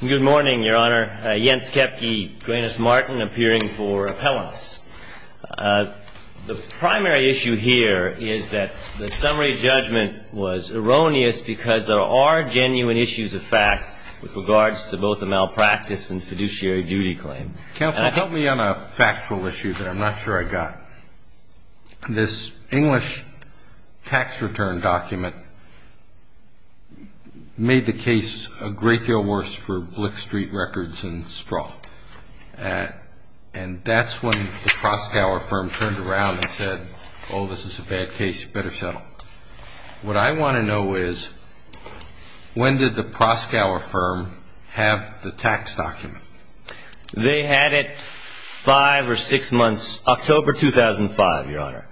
Good morning, Your Honor. Jens Kepke, Granus Martin, appearing for appellants. The primary issue here is that the summary judgment was erroneous because there are genuine issues of fact with regards to both the malpractice and fiduciary duty claim. Counsel, help me on a factual issue that I'm not sure I got. This English tax return document made the case a great deal worse for Blix Street Records and Strahl. And that's when the Proskauer firm turned around and said, oh, this is a bad case, you better settle. What I want to know is, when did the Proskauer firm have the tax document? They had it five or six months, October 2005, Your Honor.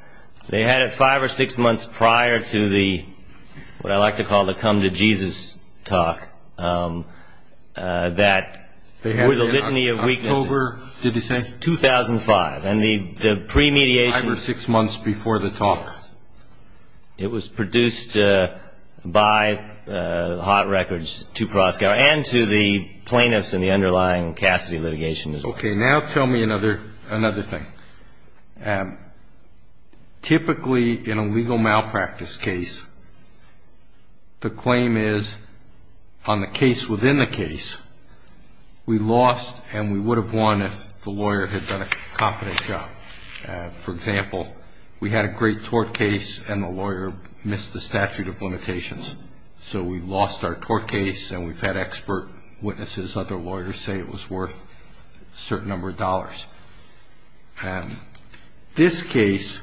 They had it five or six months prior to the, what I like to call the come to Jesus talk, that were the litany of weaknesses. October, did he say? 2005. And the premediation... Five or six months before the talk. It was produced by Hot Records to Proskauer and to the plaintiffs in the underlying Cassidy litigation as well. Okay. Now tell me another thing. Typically, in a legal malpractice case, the claim is, on the case within the case, we lost and we would have won if the lawyer had done a competent job. For example, we had a great tort case and the lawyer missed the statute of limitations. So we lost our tort case and we've had expert witnesses, other lawyers, say it was worth a certain number of dollars. This case,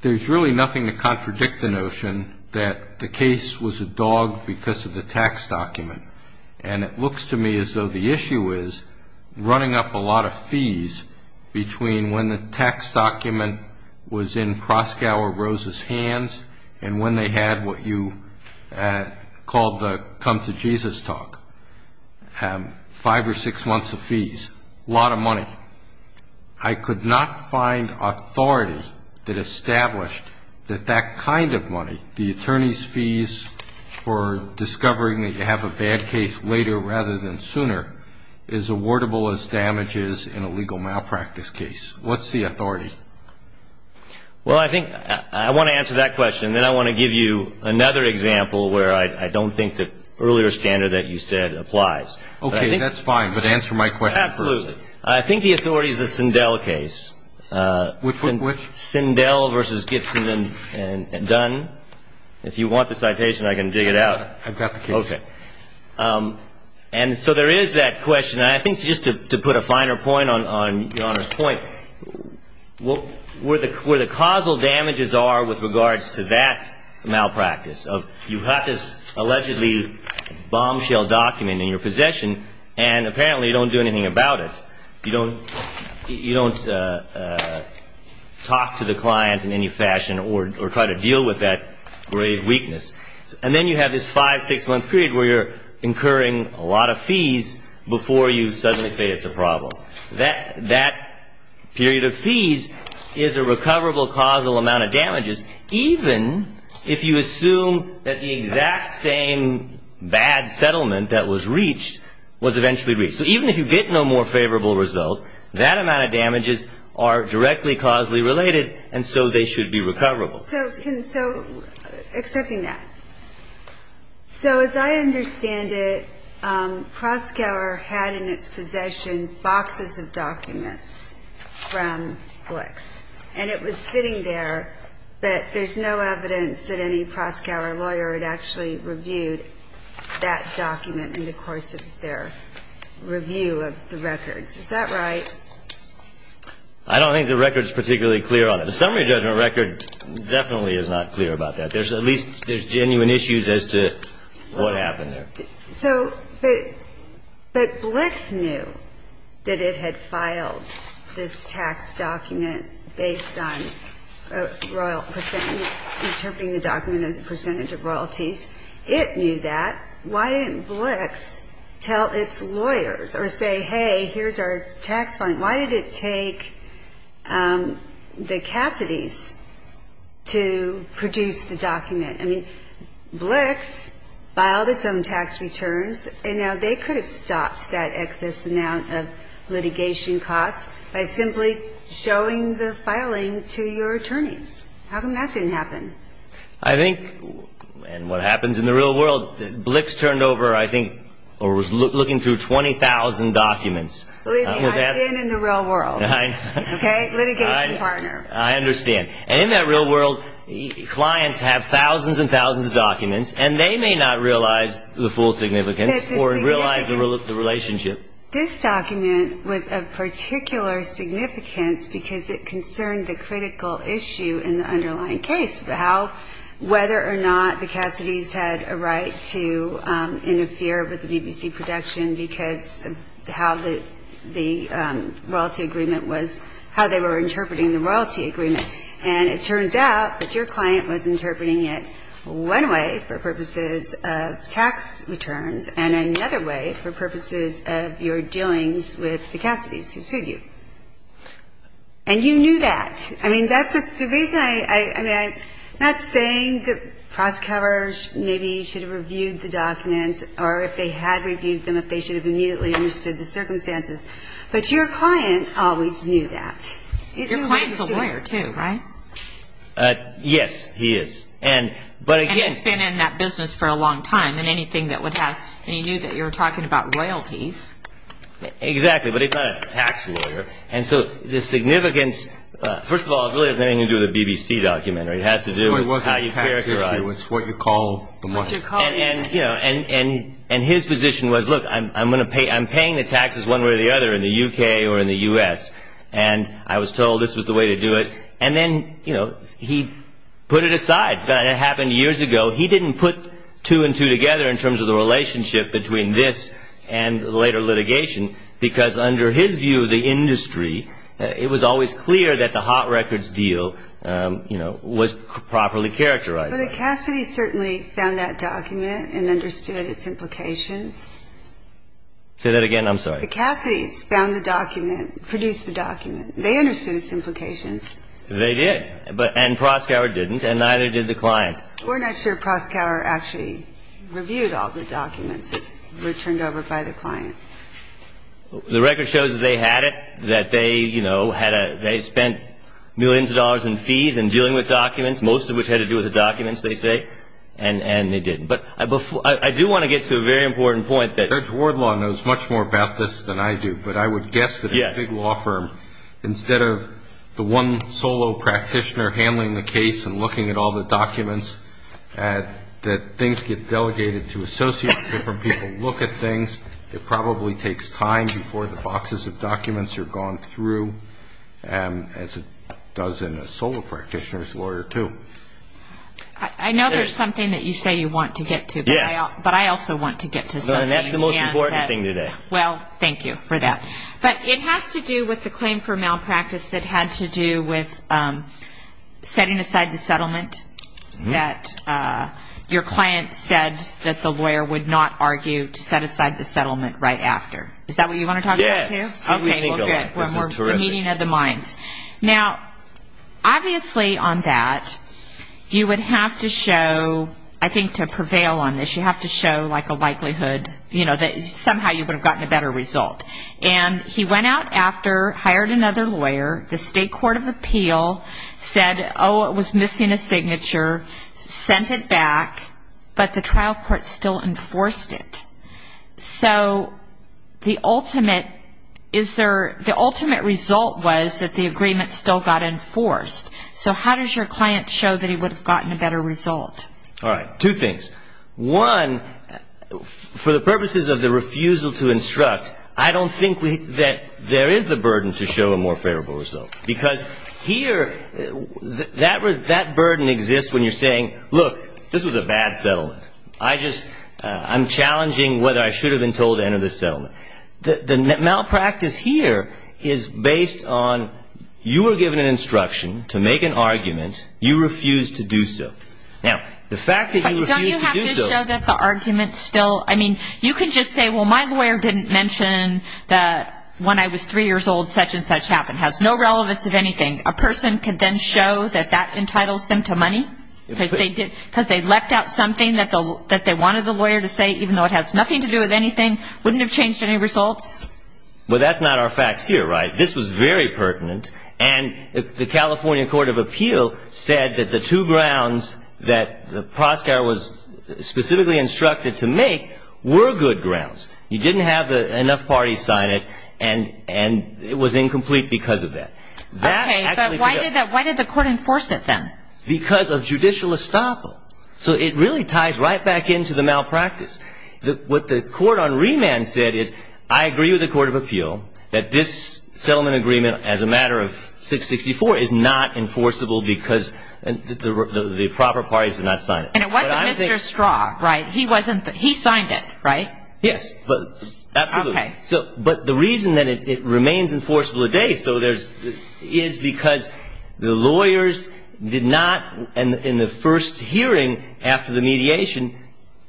there's really nothing to contradict the notion that the case was a dog because of the tax document. And it looks to me as though the issue is running up a lot of fees between when the tax document was in Proskauer Rose's hands and when they had what you called the come to Jesus talk, five or six months of fees, a lot of money. I could not find authority that established that that kind of money, the attorney's fees for discovering that you have a bad case later rather than sooner, is awardable as damages in a legal malpractice case. What's the authority? Well, I think I want to answer that question. Then I want to give you another example where I don't think the earlier standard that you said applies. Okay. That's fine. But answer my question first. Absolutely. I think the authority is the Sindel case. Which? Sindel v. Gibson and Dunn. If you want the citation, I can dig it out. I've got the case. Okay. And so there is that question. And I think just to put a finer point on Your Honor's point, where the causal damages are with regards to that malpractice. You've got this allegedly bombshell document in your possession, and apparently you don't do anything about it. You don't talk to the client in any fashion or try to deal with that grave weakness. And then you have this five-, six-month period where you're incurring a lot of fees before you suddenly say it's a problem. That period of fees is a recoverable causal amount of damages, even if you assume that the exact same bad settlement that was reached was eventually reached. So even if you get no more favorable result, that amount of damages are directly causally related, and so they should be recoverable. So accepting that, so as I understand it, Proskauer had in its possession boxes of documents from Flick's. And it was sitting there, but there's no evidence that any Proskauer lawyer had actually reviewed that document in the course of their review of the records. Is that right? I don't think the record is particularly clear on it. The summary judgment record definitely is not clear about that. There's at least genuine issues as to what happened there. So, but Flick's knew that it had filed this tax document based on royal percent and interpreting the document as a percentage of royalties. It knew that. Why didn't Flick's tell its lawyers or say, hey, here's our tax fund? Why did it take the Cassidys to produce the document? I mean, Flick's filed its own tax returns, and now they could have stopped that excess amount of litigation costs by simply showing the filing to your attorneys. How come that didn't happen? I think, and what happens in the real world, Flick's turned over, I think, or was looking through 20,000 documents. Believe me, I've been in the real world. Okay? Litigation partner. I understand. And in that real world, clients have thousands and thousands of documents, and they may not realize the full significance or realize the relationship. This document was of particular significance because it concerned the critical issue in the underlying case, whether or not the Cassidys had a right to interfere with the BBC production because how the royalty agreement was, how they were interpreting the royalty agreement. And it turns out that your client was interpreting it one way for purposes of tax returns and another way for purposes of your dealings with the Cassidys who sued you. And you knew that. I mean, that's the reason I'm not saying that prosecutors maybe should have reviewed the documents or if they had reviewed them if they should have immediately understood the circumstances, but your client always knew that. Your client's a lawyer, too, right? Yes, he is. And he's been in that business for a long time than anything that would have. And he knew that you were talking about royalties. Exactly, but he's not a tax lawyer. And so the significance, first of all, it really has nothing to do with the BBC documentary. It has to do with how you characterize it. It's what you call the money. And his position was, look, I'm paying the taxes one way or the other in the U.K. or in the U.S. and I was told this was the way to do it. And then he put it aside. It happened years ago. He didn't put two and two together in terms of the relationship between this and later litigation because under his view of the industry, it was always clear that the hot records deal, you know, was properly characterized. But the Cassidys certainly found that document and understood its implications. Say that again. I'm sorry. The Cassidys found the document, produced the document. They understood its implications. They did. And Proskauer didn't and neither did the client. We're not sure Proskauer actually reviewed all the documents that were turned over by the client. The record shows that they had it, that they, you know, they spent millions of dollars in fees in dealing with documents, most of which had to do with the documents, they say, and they did. But I do want to get to a very important point. Judge Wardlaw knows much more about this than I do, but I would guess that a big law firm, instead of the one solo practitioner handling the case and looking at all the documents, that things get delegated to associates, different people look at things. It probably takes time before the boxes of documents are gone through, as it does in a solo practitioner's lawyer too. I know there's something that you say you want to get to. Yes. But I also want to get to something. No, and that's the most important thing today. Well, thank you for that. But it has to do with the claim for malpractice that had to do with setting aside the settlement that your client said that the lawyer would not argue to set aside the settlement right after. Is that what you want to talk about too? Yes. Okay, well, good. This is terrific. The meeting of the minds. Now, obviously on that, you would have to show, I think to prevail on this, you have to show a likelihood that somehow you would have gotten a better result. And he went out after, hired another lawyer, the state court of appeal said, oh, it was missing a signature, sent it back, but the trial court still enforced it. So the ultimate result was that the agreement still got enforced. So how does your client show that he would have gotten a better result? All right, two things. One, for the purposes of the refusal to instruct, I don't think that there is the burden to show a more favorable result. Because here that burden exists when you're saying, look, this was a bad settlement. I'm challenging whether I should have been told to enter this settlement. The malpractice here is based on you were given an instruction to make an argument. You refused to do so. Now, the fact that you refused to do so. Don't you have to show that the argument still, I mean, you can just say, well, my lawyer didn't mention that when I was three years old such and such happened. It has no relevance of anything. A person can then show that that entitles them to money? Because they left out something that they wanted the lawyer to say, even though it has nothing to do with anything, wouldn't have changed any results? Well, that's not our facts here, right? This was very pertinent. And the California Court of Appeal said that the two grounds that the prosecutor was specifically instructed to make were good grounds. You didn't have enough parties sign it, and it was incomplete because of that. Okay, but why did the court enforce it then? Because of judicial estoppel. So it really ties right back into the malpractice. What the court on remand said is, I agree with the Court of Appeal that this settlement agreement, as a matter of 664, is not enforceable because the proper parties did not sign it. And it wasn't Mr. Straub, right? He signed it, right? Yes, absolutely. But the reason that it remains enforceable today is because the lawyers did not, in the first hearing after the mediation,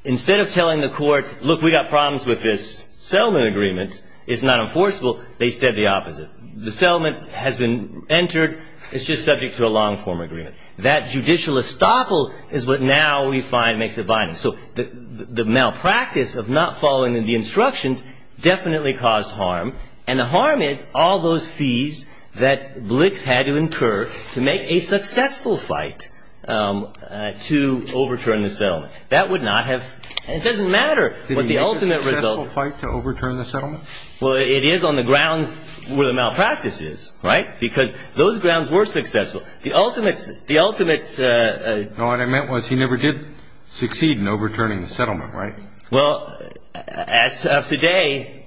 instead of telling the court, look, we've got problems with this settlement agreement, it's not enforceable, they said the opposite. The settlement has been entered, it's just subject to a long-form agreement. That judicial estoppel is what now we find makes it binding. So the malpractice of not following the instructions definitely caused harm, and the harm is all those fees that Blix had to incur to make a successful fight to overturn the settlement. That would not have – it doesn't matter what the ultimate result – Did it make a successful fight to overturn the settlement? Well, it is on the grounds where the malpractice is, right? Because those grounds were successful. The ultimate – the ultimate – No, what I meant was he never did succeed in overturning the settlement, right? Well, as of today,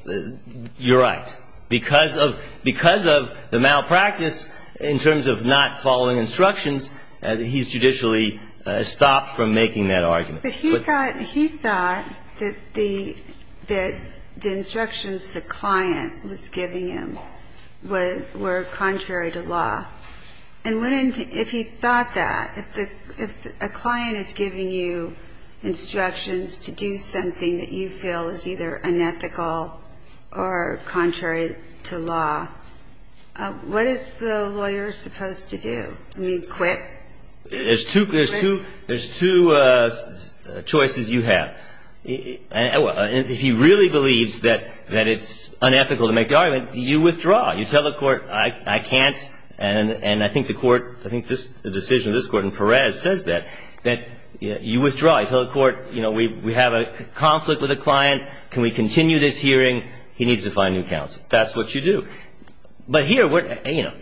you're right. Because of – because of the malpractice in terms of not following instructions, he's judicially stopped from making that argument. But he thought – he thought that the – that the instructions the client was giving him were contrary to law. And when – if he thought that, if the – if a client is giving you instructions to do something that you feel is either unethical or contrary to law, what is the lawyer supposed to do? I mean, quit? There's two – there's two – there's two choices you have. If he really believes that it's unethical to make the argument, you withdraw. You tell the court, I can't, and I think the court – I think the decision of this court in Perez says that, that you withdraw. You tell the court, you know, we have a conflict with a client. Can we continue this hearing? He needs to find new counsel. That's what you do. But here, you know,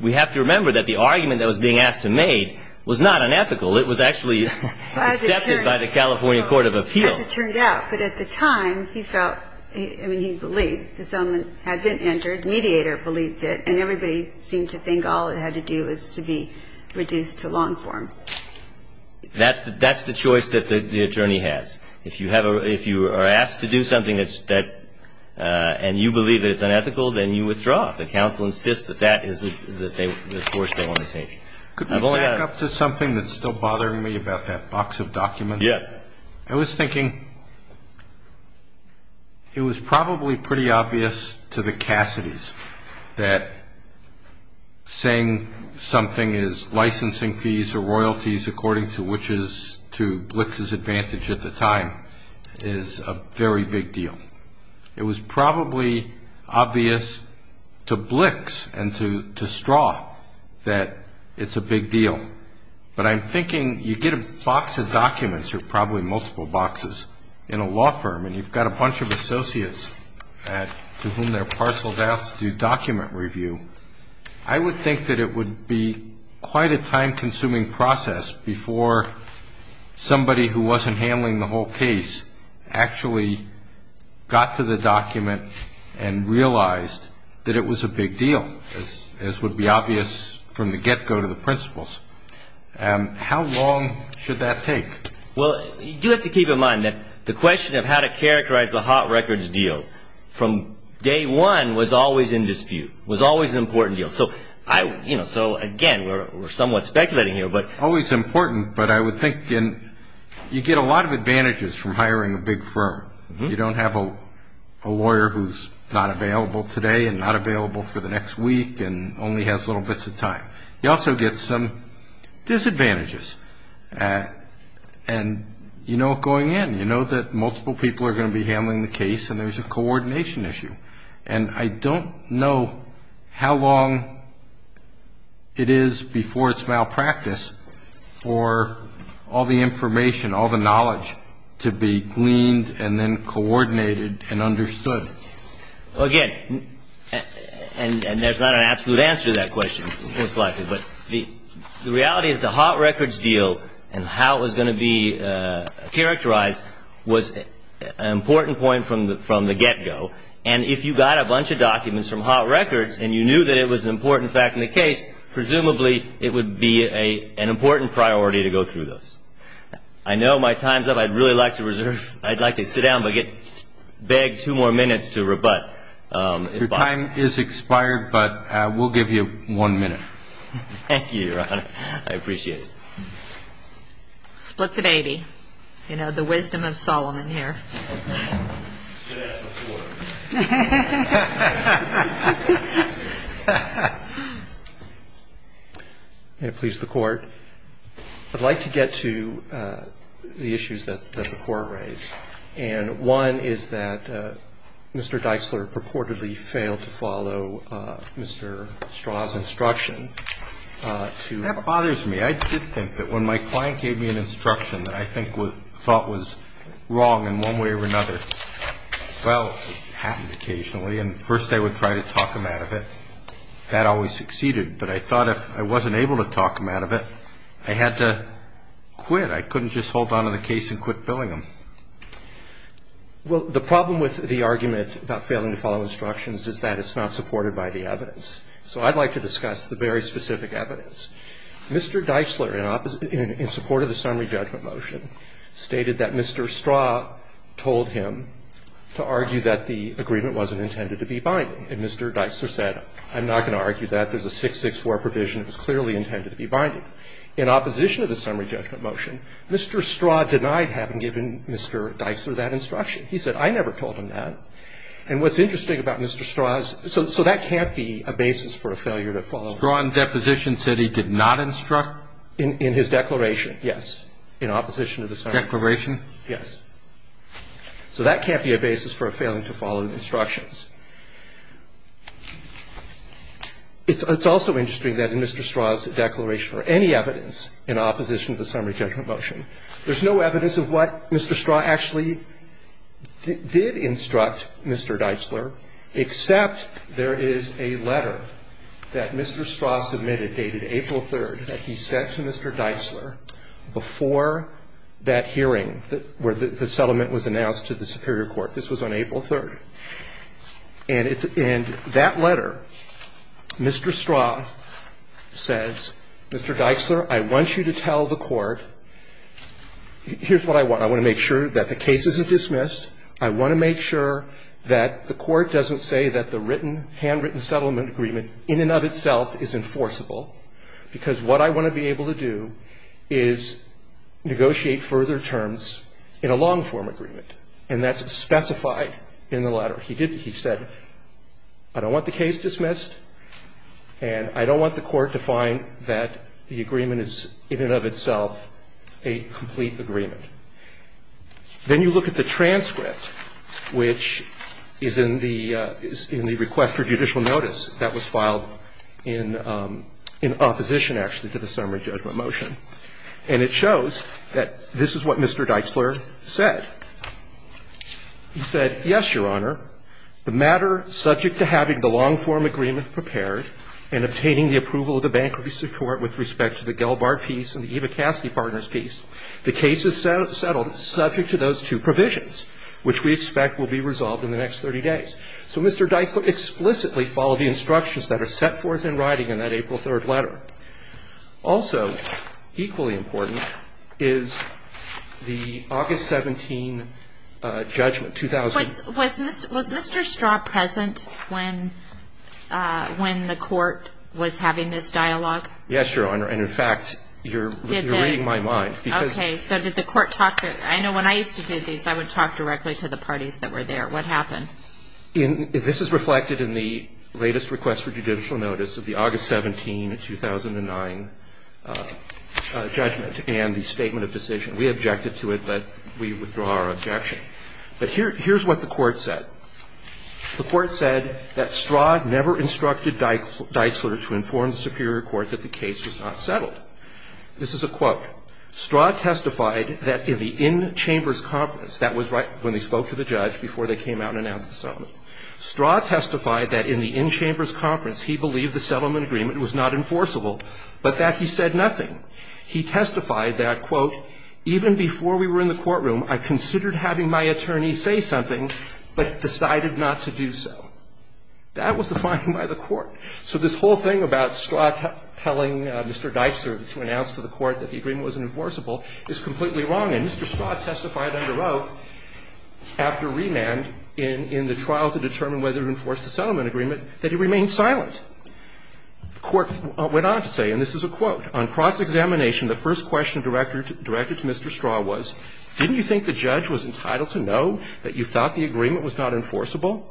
we have to remember that the argument that was being asked to make was not unethical. It was actually accepted by the California Court of Appeals. As it turned out. But at the time, he felt – I mean, he believed. The settlement had been entered, the mediator believed it, and everybody seemed to think all it had to do was to be reduced to long form. That's the – that's the choice that the attorney has. If you have a – if you are asked to do something that's – and you believe that it's unethical, then you withdraw. The counsel insists that that is the course they want to take. Could we back up to something that's still bothering me about that box of documents? Yes. I was thinking it was probably pretty obvious to the Cassidys that saying something is licensing fees or royalties according to which is to Blix's advantage at the time is a very big deal. It was probably obvious to Blix and to Straw that it's a big deal. But I'm thinking you get a box of documents or probably multiple boxes in a law firm and you've got a bunch of associates to whom they're parceled out to do document review. I would think that it would be quite a time-consuming process before somebody who wasn't handling the whole case actually got to the document and realized that it was a big deal, as would be obvious from the get-go to the principals. How long should that take? Well, you have to keep in mind that the question of how to characterize the hot records deal from day one was always in dispute, was always an important deal. So, again, we're somewhat speculating here. Always important, but I would think you get a lot of advantages from hiring a big firm. You don't have a lawyer who's not available today and not available for the next week and only has little bits of time. You also get some disadvantages, and you know what's going in. You know that multiple people are going to be handling the case and there's a coordination issue. And I don't know how long it is before it's malpractice for all the information, all the knowledge to be gleaned and then coordinated and understood. Well, again, and there's not an absolute answer to that question, most likely, but the reality is the hot records deal and how it was going to be characterized was an important point from the get-go. And if you got a bunch of documents from hot records and you knew that it was an important fact in the case, presumably it would be an important priority to go through those. I know my time's up. I'd really like to reserve. I'd like to sit down and beg two more minutes to rebut. Your time is expired, but we'll give you one minute. Thank you, Your Honor. I appreciate it. Split the baby. You know, the wisdom of Solomon here. May it please the Court. I'd like to get to the issues that the Court raised. And one is that Mr. Dixler purportedly failed to follow Mr. Straw's instruction to ---- That bothers me. I did think that when my client gave me an instruction that I thought was wrong in one way or another, well, it happened occasionally, and first I would try to talk him out of it. That always succeeded. But I thought if I wasn't able to talk him out of it, I had to quit. I couldn't just hold on to the case and quit billing him. Well, the problem with the argument about failing to follow instructions is that it's not supported by the evidence. So I'd like to discuss the very specific evidence. Mr. Dixler, in support of the summary judgment motion, stated that Mr. Straw told him to argue that the agreement wasn't intended to be binding. And Mr. Dixler said, I'm not going to argue that. There's a 664 provision. It was clearly intended to be binding. In opposition to the summary judgment motion, Mr. Straw denied having given Mr. Dixler that instruction. He said, I never told him that. And what's interesting about Mr. Straw's ---- so that can't be a basis for a failure to follow instructions. In his declaration, yes, in opposition to the summary judgment motion. Declaration? Yes. So that can't be a basis for a failing to follow instructions. It's also interesting that in Mr. Straw's declaration or any evidence in opposition to the summary judgment motion, there's no evidence of what Mr. Straw actually did instruct Mr. Dixler, except there is a letter that Mr. Straw sent to Mr. Dixler that Mr. Straw submitted, dated April 3rd, that he sent to Mr. Dixler before that hearing where the settlement was announced to the superior court. This was on April 3rd. And it's in that letter, Mr. Straw says, Mr. Dixler, I want you to tell the Court here's what I want. I want to make sure that the case isn't dismissed. I want to make sure that the Court doesn't say that the written, handwritten settlement agreement in and of itself is enforceable, because what I want to be able to do is negotiate further terms in a long-form agreement, and that's specified in the letter. He said, I don't want the case dismissed, and I don't want the Court to find that the agreement is in and of itself a complete agreement. Then you look at the transcript, which is in the request for judicial notice that was filed in opposition, actually, to the summary judgment motion, and it shows that this is what Mr. Dixler said. He said, yes, Your Honor, the matter subject to having the long-form agreement prepared and obtaining the approval of the bankruptcy court with respect to the Gelbart piece and the Ivocasky partners piece. The case is settled subject to those two provisions, which we expect will be resolved in the next 30 days. So Mr. Dixler explicitly followed the instructions that are set forth in writing in that April 3rd letter. Also equally important is the August 17 judgment, 2000. Was Mr. Straw present when the Court was having this dialogue? Yes, Your Honor. And in fact, you're reading my mind. Okay. So did the Court talk to – I know when I used to do these, I would talk directly to the parties that were there. What happened? This is reflected in the latest request for judicial notice of the August 17, 2009, judgment and the statement of decision. We objected to it, but we withdraw our objection. But here's what the Court said. The Court said that Straw never instructed Dixler to inform the superior court that the case was not settled. This is a quote. Straw testified that in the in-chambers conference, that was right when they spoke to the judge before they came out and announced the settlement. Straw testified that in the in-chambers conference, he believed the settlement agreement was not enforceable, but that he said nothing. He testified that, quote, even before we were in the courtroom, I considered having my attorney say something, but decided not to do so. That was the finding by the Court. So this whole thing about Straw telling Mr. Dixler to announce to the Court that the agreement wasn't enforceable is completely wrong. And Mr. Straw testified under oath after remand in the trial to determine whether to enforce the settlement agreement that he remained silent. The Court went on to say, and this is a quote, on cross-examination the first question directed to Mr. Straw was, didn't you think the judge was entitled to know that you thought the agreement was not enforceable?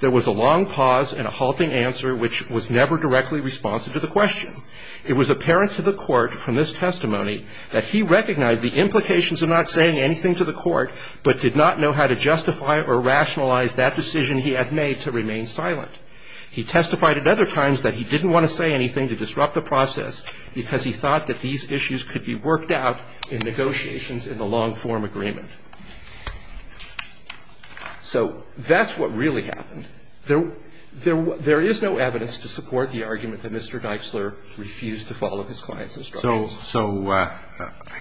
There was a long pause and a halting answer which was never directly responsive to the question. It was apparent to the Court from this testimony that he recognized the implications of not saying anything to the Court, but did not know how to justify or rationalize that decision he had made to remain silent. He testified at other times that he didn't want to say anything to disrupt the process because he thought that these issues could be worked out in negotiations in the long-form agreement. So that's what really happened. There is no evidence to support the argument that Mr. Dixler refused to follow his client's instructions. So I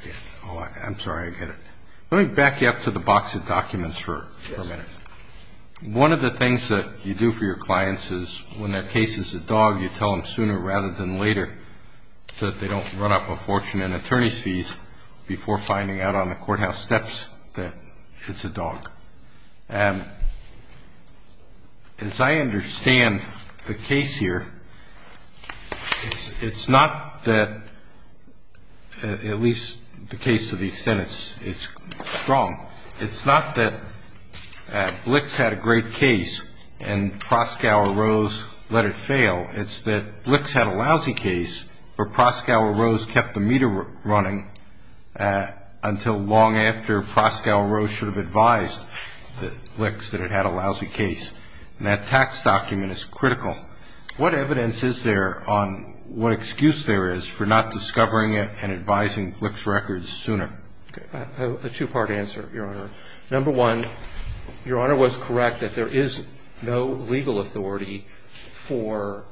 get it. I'm sorry. I get it. Let me back you up to the box of documents for a minute. One of the things that you do for your clients is when that case is a dog, you tell them sooner rather than later that they don't run up a fortune in attorney's records before finding out on the courthouse steps that it's a dog. As I understand the case here, it's not that at least the case to the extent it's strong, it's not that Blix had a great case and Proscow or Rose let it fail, it's that Blix had a lousy case where Proscow or Rose kept the meter running until long after Proscow or Rose should have advised Blix that it had a lousy case. And that tax document is critical. What evidence is there on what excuse there is for not discovering it and advising Blix records sooner? A two-part answer, Your Honor. Number one, Your Honor was correct that there is no legal authority for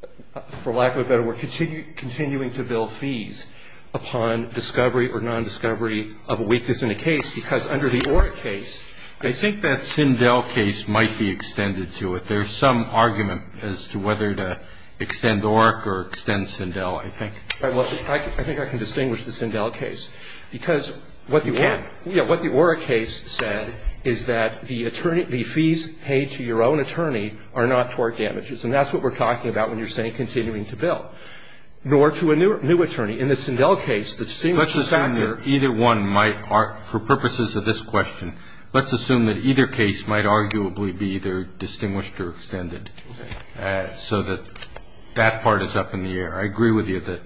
the plaintiff, for lack of a better word, continuing to bill fees upon discovery or nondiscovery of a weakness in a case. Because under the Oreck case, I think that Sindel case might be extended to it. There's some argument as to whether to extend Oreck or extend Sindel, I think. I think I can distinguish the Sindel case, because what the Oreck case said is that the fees paid to your own attorney are not tort damages. And that's what we're talking about when you're saying continuing to bill. Nor to a new attorney. In the Sindel case, the same factor ---- Let's assume that either one might, for purposes of this question, let's assume that either case might arguably be either distinguished or extended so that that part is up in the air. I agree with you that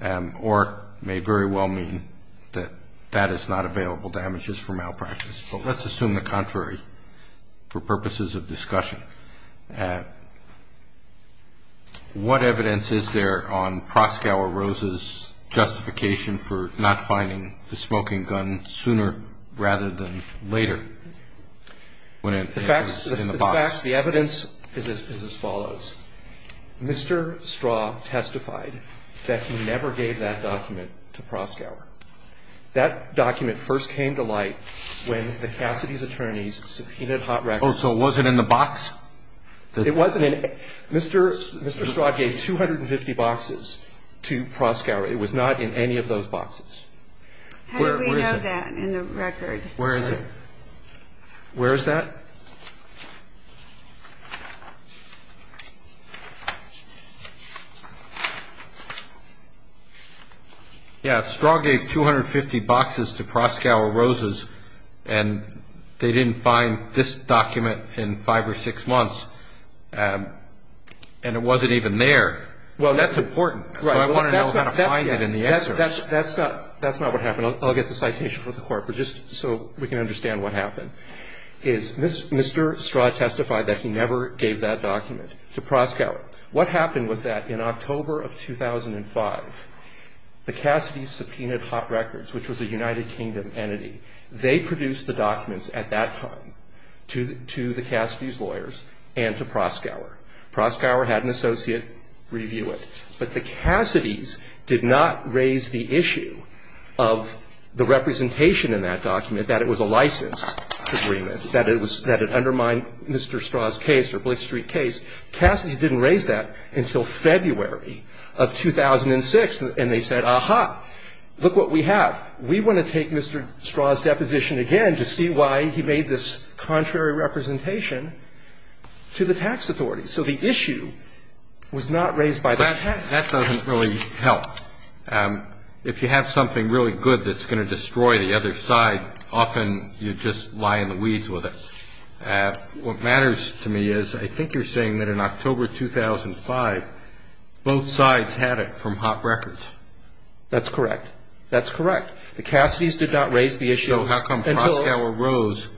Oreck may very well mean that that is not available damages for malpractice. But let's assume the contrary for purposes of discussion. What evidence is there on Proskauer-Rose's justification for not finding the smoking gun sooner rather than later when it was in the box? The evidence is as follows. Mr. Straw testified that he never gave that document to Proskauer. That document first came to light when the Cassidy's attorneys subpoenaed Hot Records. Oh, so it wasn't in the box? It wasn't in it. Mr. Straw gave 250 boxes to Proskauer. It was not in any of those boxes. How do we know that in the record? Where is it? Where is that? Yeah, Straw gave 250 boxes to Proskauer-Rose's, and they didn't find this document in five or six months, and it wasn't even there. That's important. So I want to know how to find it in the excerpts. That's not what happened. I'll get the citation from the court. But just so we can understand what happened. Mr. Straw testified that he never gave that document to Proskauer. What happened was that in October of 2005, the Cassidy's subpoenaed Hot Records, which was a United Kingdom entity. They produced the documents at that time to the Cassidy's lawyers and to Proskauer. Proskauer had an associate review it. But the Cassidy's did not raise the issue of the representation in that document, that it was a license agreement, that it undermined Mr. Straw's case or Blake Street's case. Cassidy's didn't raise that until February of 2006, and they said, aha, look what we have. We want to take Mr. Straw's deposition again to see why he made this contrary representation to the tax authorities. So the issue was not raised by the tax authorities. That doesn't really help. If you have something really good that's going to destroy the other side, often you just lie in the weeds with it. What matters to me is I think you're saying that in October 2005, both sides had it from Hot Records. That's correct. That's correct. The Cassidy's did not raise the issue. So how come Proskauer Rose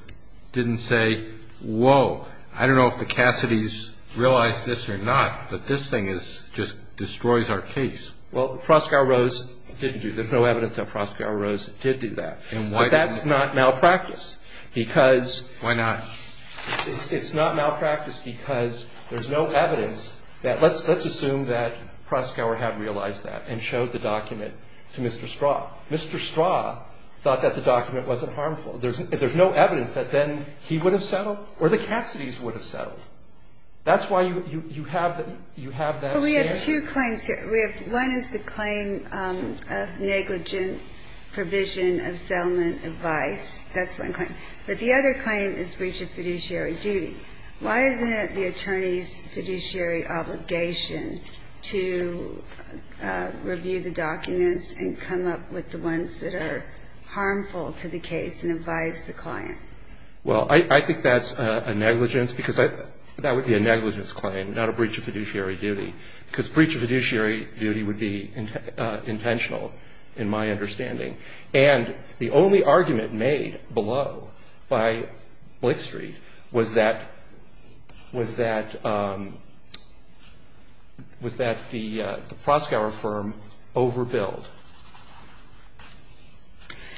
didn't say, whoa, I don't know if the Cassidy's realized this or not, that this thing just destroys our case? Well, Proskauer Rose didn't do that. There's no evidence that Proskauer Rose did do that. But that's not malpractice because. Why not? It's not malpractice because there's no evidence that let's assume that Proskauer had realized that and showed the document to Mr. Straw. Mr. Straw thought that the document wasn't harmful. There's no evidence that then he would have settled or the Cassidy's would have settled. That's why you have that standard. But we have two claims here. One is the claim of negligent provision of settlement advice. That's one claim. But the other claim is breach of fiduciary duty. Why isn't it the attorney's fiduciary obligation to review the documents and come up with the ones that are harmful to the case and advise the client? Well, I think that's a negligence because that would be a negligence claim, not a breach of fiduciary duty, because breach of fiduciary duty would be intentional in my understanding. And the only argument made below by Blake Street was that the Proskauer firm overbilled.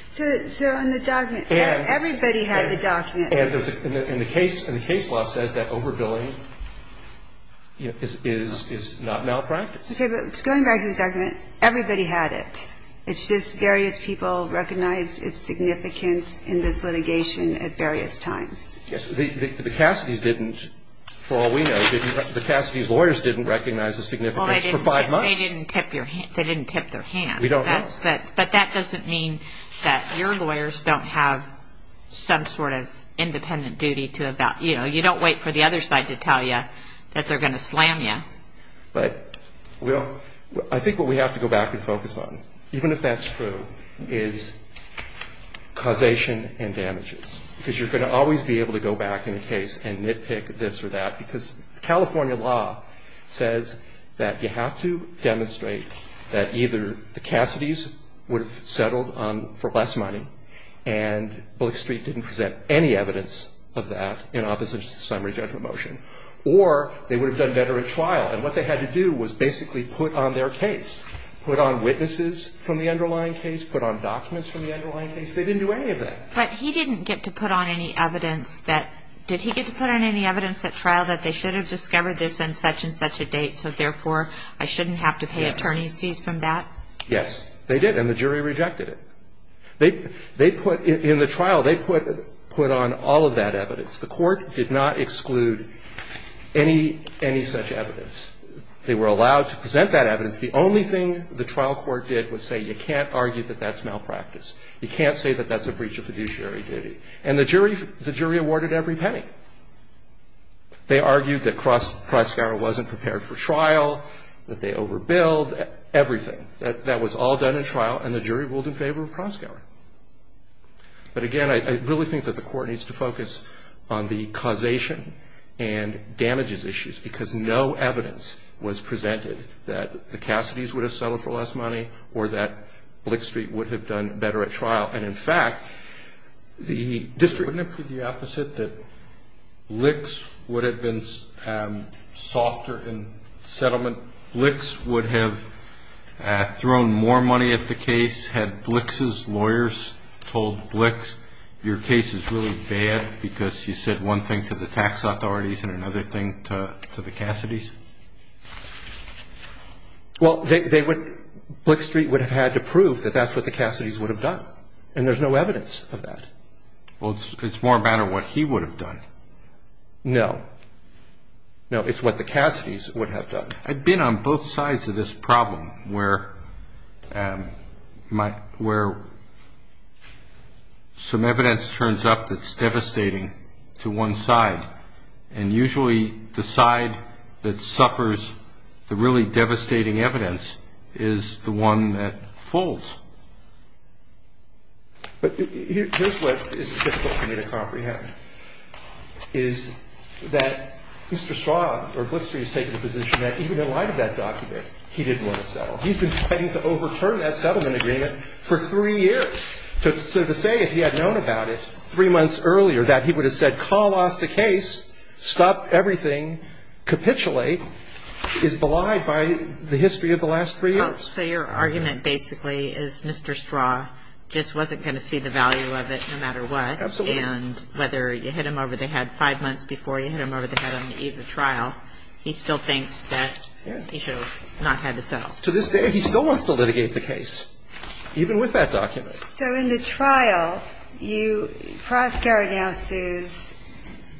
So on the document, everybody had the document. And the case law says that overbilling is not malpractice. Okay. But going back to the document, everybody had it. It's just various people recognized its significance in this litigation at various times. Yes. The Cassidy's didn't, for all we know, the Cassidy's lawyers didn't recognize the significance for five months. They didn't tip their hands. We don't know. But that doesn't mean that your lawyers don't have some sort of independent duty to evaluate. You know, you don't wait for the other side to tell you that they're going to slam you. But I think what we have to go back and focus on, even if that's true, is causation and damages. Because you're going to always be able to go back in a case and nitpick this or that California law says that you have to demonstrate that either the Cassidy's would have settled for less money, and Bullock Street didn't present any evidence of that in opposition to the summary judgment motion, or they would have done better at trial. And what they had to do was basically put on their case, put on witnesses from the underlying case, put on documents from the underlying case. They didn't do any of that. But he didn't get to put on any evidence that – did he get to put on any evidence at trial that they should have discovered this on such and such a date, so therefore I shouldn't have to pay attorney's fees from that? Yes. They did. And the jury rejected it. They put – in the trial, they put on all of that evidence. The court did not exclude any such evidence. They were allowed to present that evidence. The only thing the trial court did was say you can't argue that that's malpractice. You can't say that that's a breach of fiduciary duty. And the jury awarded every penny. They argued that Crossgower wasn't prepared for trial, that they overbilled, everything. That was all done in trial, and the jury ruled in favor of Crossgower. But again, I really think that the court needs to focus on the causation and damages issues, because no evidence was presented that the Cassidys would have settled for less money or that Blick Street would have done better at trial. And, in fact, the district – Wouldn't it be the opposite, that Blick's would have been softer in settlement? Blick's would have thrown more money at the case? Had Blick's lawyers told Blick's, your case is really bad because you said one thing to the tax authorities and another thing to the Cassidys? Well, they would – Blick Street would have had to prove that that's what the Cassidys would have done, and there's no evidence of that. Well, it's more a matter of what he would have done. No. No, it's what the Cassidys would have done. I've been on both sides of this problem where some evidence turns up that's devastating to one side, and usually the side that suffers the really devastating evidence is the one that folds. But here's what is difficult for me to comprehend, is that Mr. Straub, or Blick Street, has taken the position that even in light of that document, he didn't want to settle. He's been fighting to overturn that settlement agreement for three years. So to say if he had known about it three months earlier that he would have said, call off the case, stop everything, capitulate, is belied by the history of the last three years. So your argument basically is Mr. Straub just wasn't going to see the value of it no matter what. Absolutely. And whether you hit him over the head five months before you hit him over the head on the eve of the trial, he still thinks that he should have not had to settle. To this day, he still wants to litigate the case, even with that document. So in the trial, you – Proskauer now sues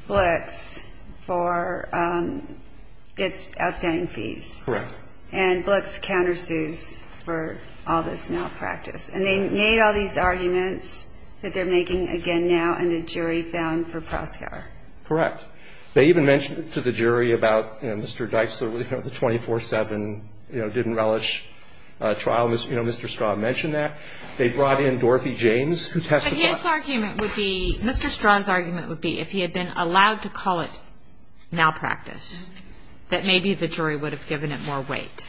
Blicks for its outstanding fees. Correct. And Blicks countersues for all this malpractice. And they made all these arguments that they're making again now, and the jury found for Proskauer. Correct. They even mentioned to the jury about, you know, Mr. Dixler, you know, the 24-7, you know, didn't relish trial. You know, Mr. Straub mentioned that. They brought in Dorothy James, who testified. But his argument would be – Mr. Straub's argument would be if he had been allowed to call it malpractice, that maybe the jury would have given it more weight.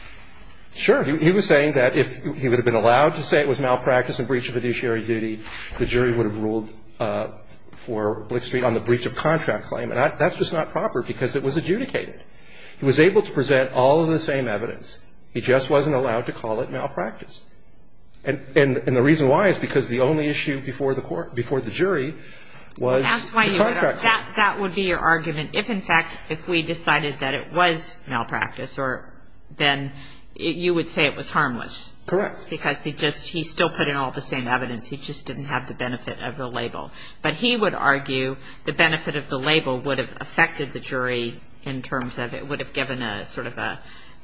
Sure. He was saying that if he would have been allowed to say it was malpractice and breach of judiciary duty, the jury would have ruled for Blicks v. on the breach of contract claim. And that's just not proper because it was adjudicated. He was able to present all of the same evidence. He just wasn't allowed to call it malpractice. And the reason why is because the only issue before the jury was the contract claim. That's why you would – that would be your argument. If, in fact, if we decided that it was malpractice, then you would say it was harmless. Correct. Because he just – he still put in all the same evidence. He just didn't have the benefit of the label. But he would argue the benefit of the label would have affected the jury in terms of it would have given a sort of an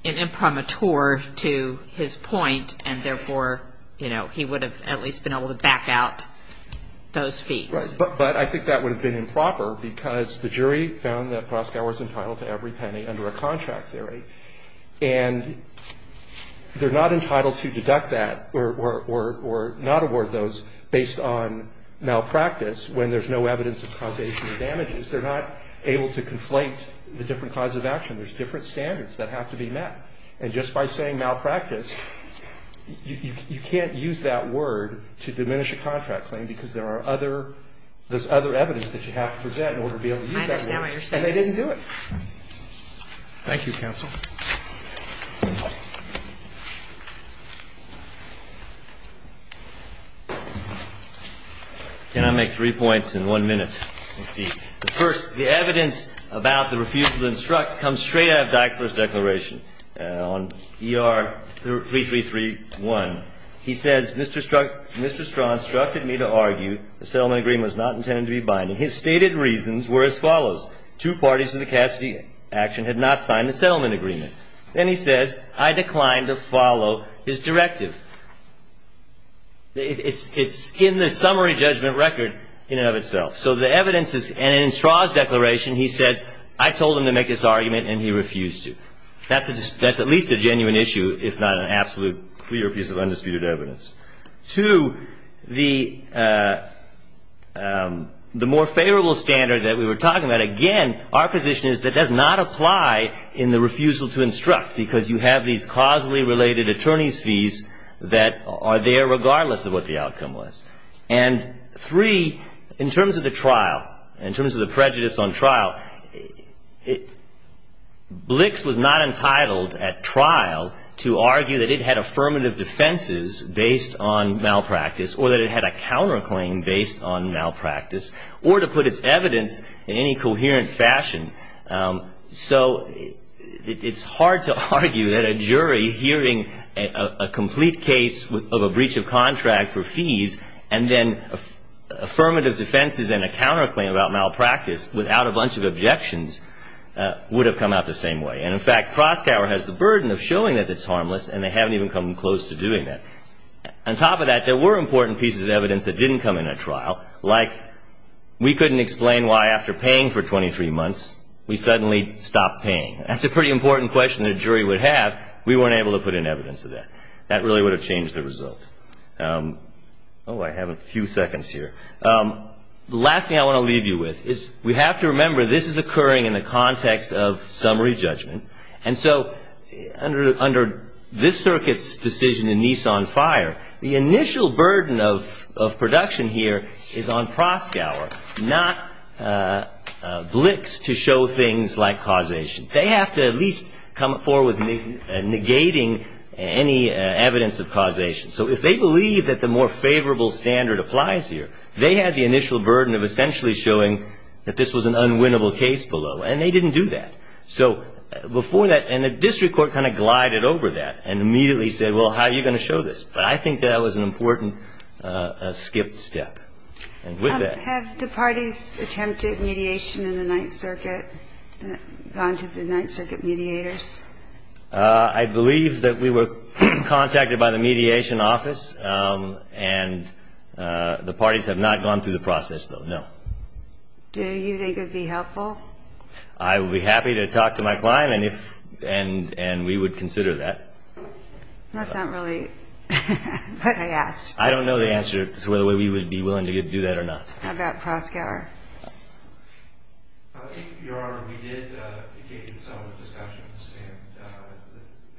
imprimatur to his point, and therefore, you know, he would have at least been able to back out those feats. Right. But I think that would have been improper because the jury found that Proskauer was entitled to every penny under a contract theory. And they're not entitled to deduct that or not award those based on malpractice when there's no evidence of causation of damages. They're not able to conflate the different causes of action. There's different standards that have to be met. And just by saying malpractice, you can't use that word to diminish a contract claim because there are other – there's other evidence that you have to present in order to be able to use that word. I understand what you're saying. And they didn't do it. Thank you, counsel. Can I make three points in one minute? Let's see. The first, the evidence about the refusal to instruct comes straight out of Dixler's declaration on ER3331. He says, Mr. Strachan instructed me to argue the settlement agreement was not intended to be binding. His stated reasons were as follows. Two parties in the Cassidy action had not signed the settlement agreement. Then he says, I declined to follow his directive. It's in the summary judgment record in and of itself. So the evidence is – and in Strachan's declaration, he says, I told him to make this argument and he refused to. That's at least a genuine issue, if not an absolute clear piece of undisputed evidence. Two, the more favorable standard that we were talking about, again, our position is that does not apply in the refusal to instruct because you have these causally related attorney's fees that are there regardless of what the outcome was. And three, in terms of the trial, in terms of the prejudice on trial, BLICS was not entitled at trial to argue that it had affirmative defenses based on malpractice or that it had a counterclaim based on malpractice or to put its evidence in any So it's hard to argue that a jury hearing a complete case of a breach of contract for fees and then affirmative defenses and a counterclaim about malpractice without a bunch of objections would have come out the same way. And in fact, Kroskauer has the burden of showing that it's harmless and they haven't even come close to doing that. On top of that, there were important pieces of evidence that didn't come in at months, we suddenly stopped paying. That's a pretty important question the jury would have. We weren't able to put in evidence of that. That really would have changed the result. Oh, I have a few seconds here. The last thing I want to leave you with is we have to remember this is occurring in the context of summary judgment. And so under this circuit's decision in Nissan Fire, the initial burden of like causation. They have to at least come forward with negating any evidence of causation. So if they believe that the more favorable standard applies here, they had the initial burden of essentially showing that this was an unwinnable case below. And they didn't do that. So before that, and the district court kind of glided over that and immediately said, well, how are you going to show this? But I think that was an important skipped step. Have the parties attempted mediation in the Ninth Circuit? Gone to the Ninth Circuit mediators? I believe that we were contacted by the mediation office. And the parties have not gone through the process, though, no. Do you think it would be helpful? I would be happy to talk to my client and we would consider that. That's not really what I asked. I don't know the answer to whether we would be willing to do that or not. How about Proskauer? I think, Your Honor, we did engage in some discussions and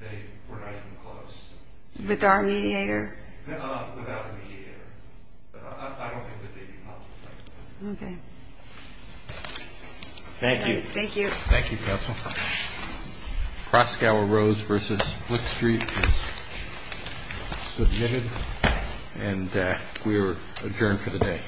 they were not even close. With our mediator? Without the mediator. I don't think that they'd be helpful. Okay. Thank you. Thank you. Thank you, counsel. Proskauer Rose v. Blick Street is submitted. And we are adjourned for the day.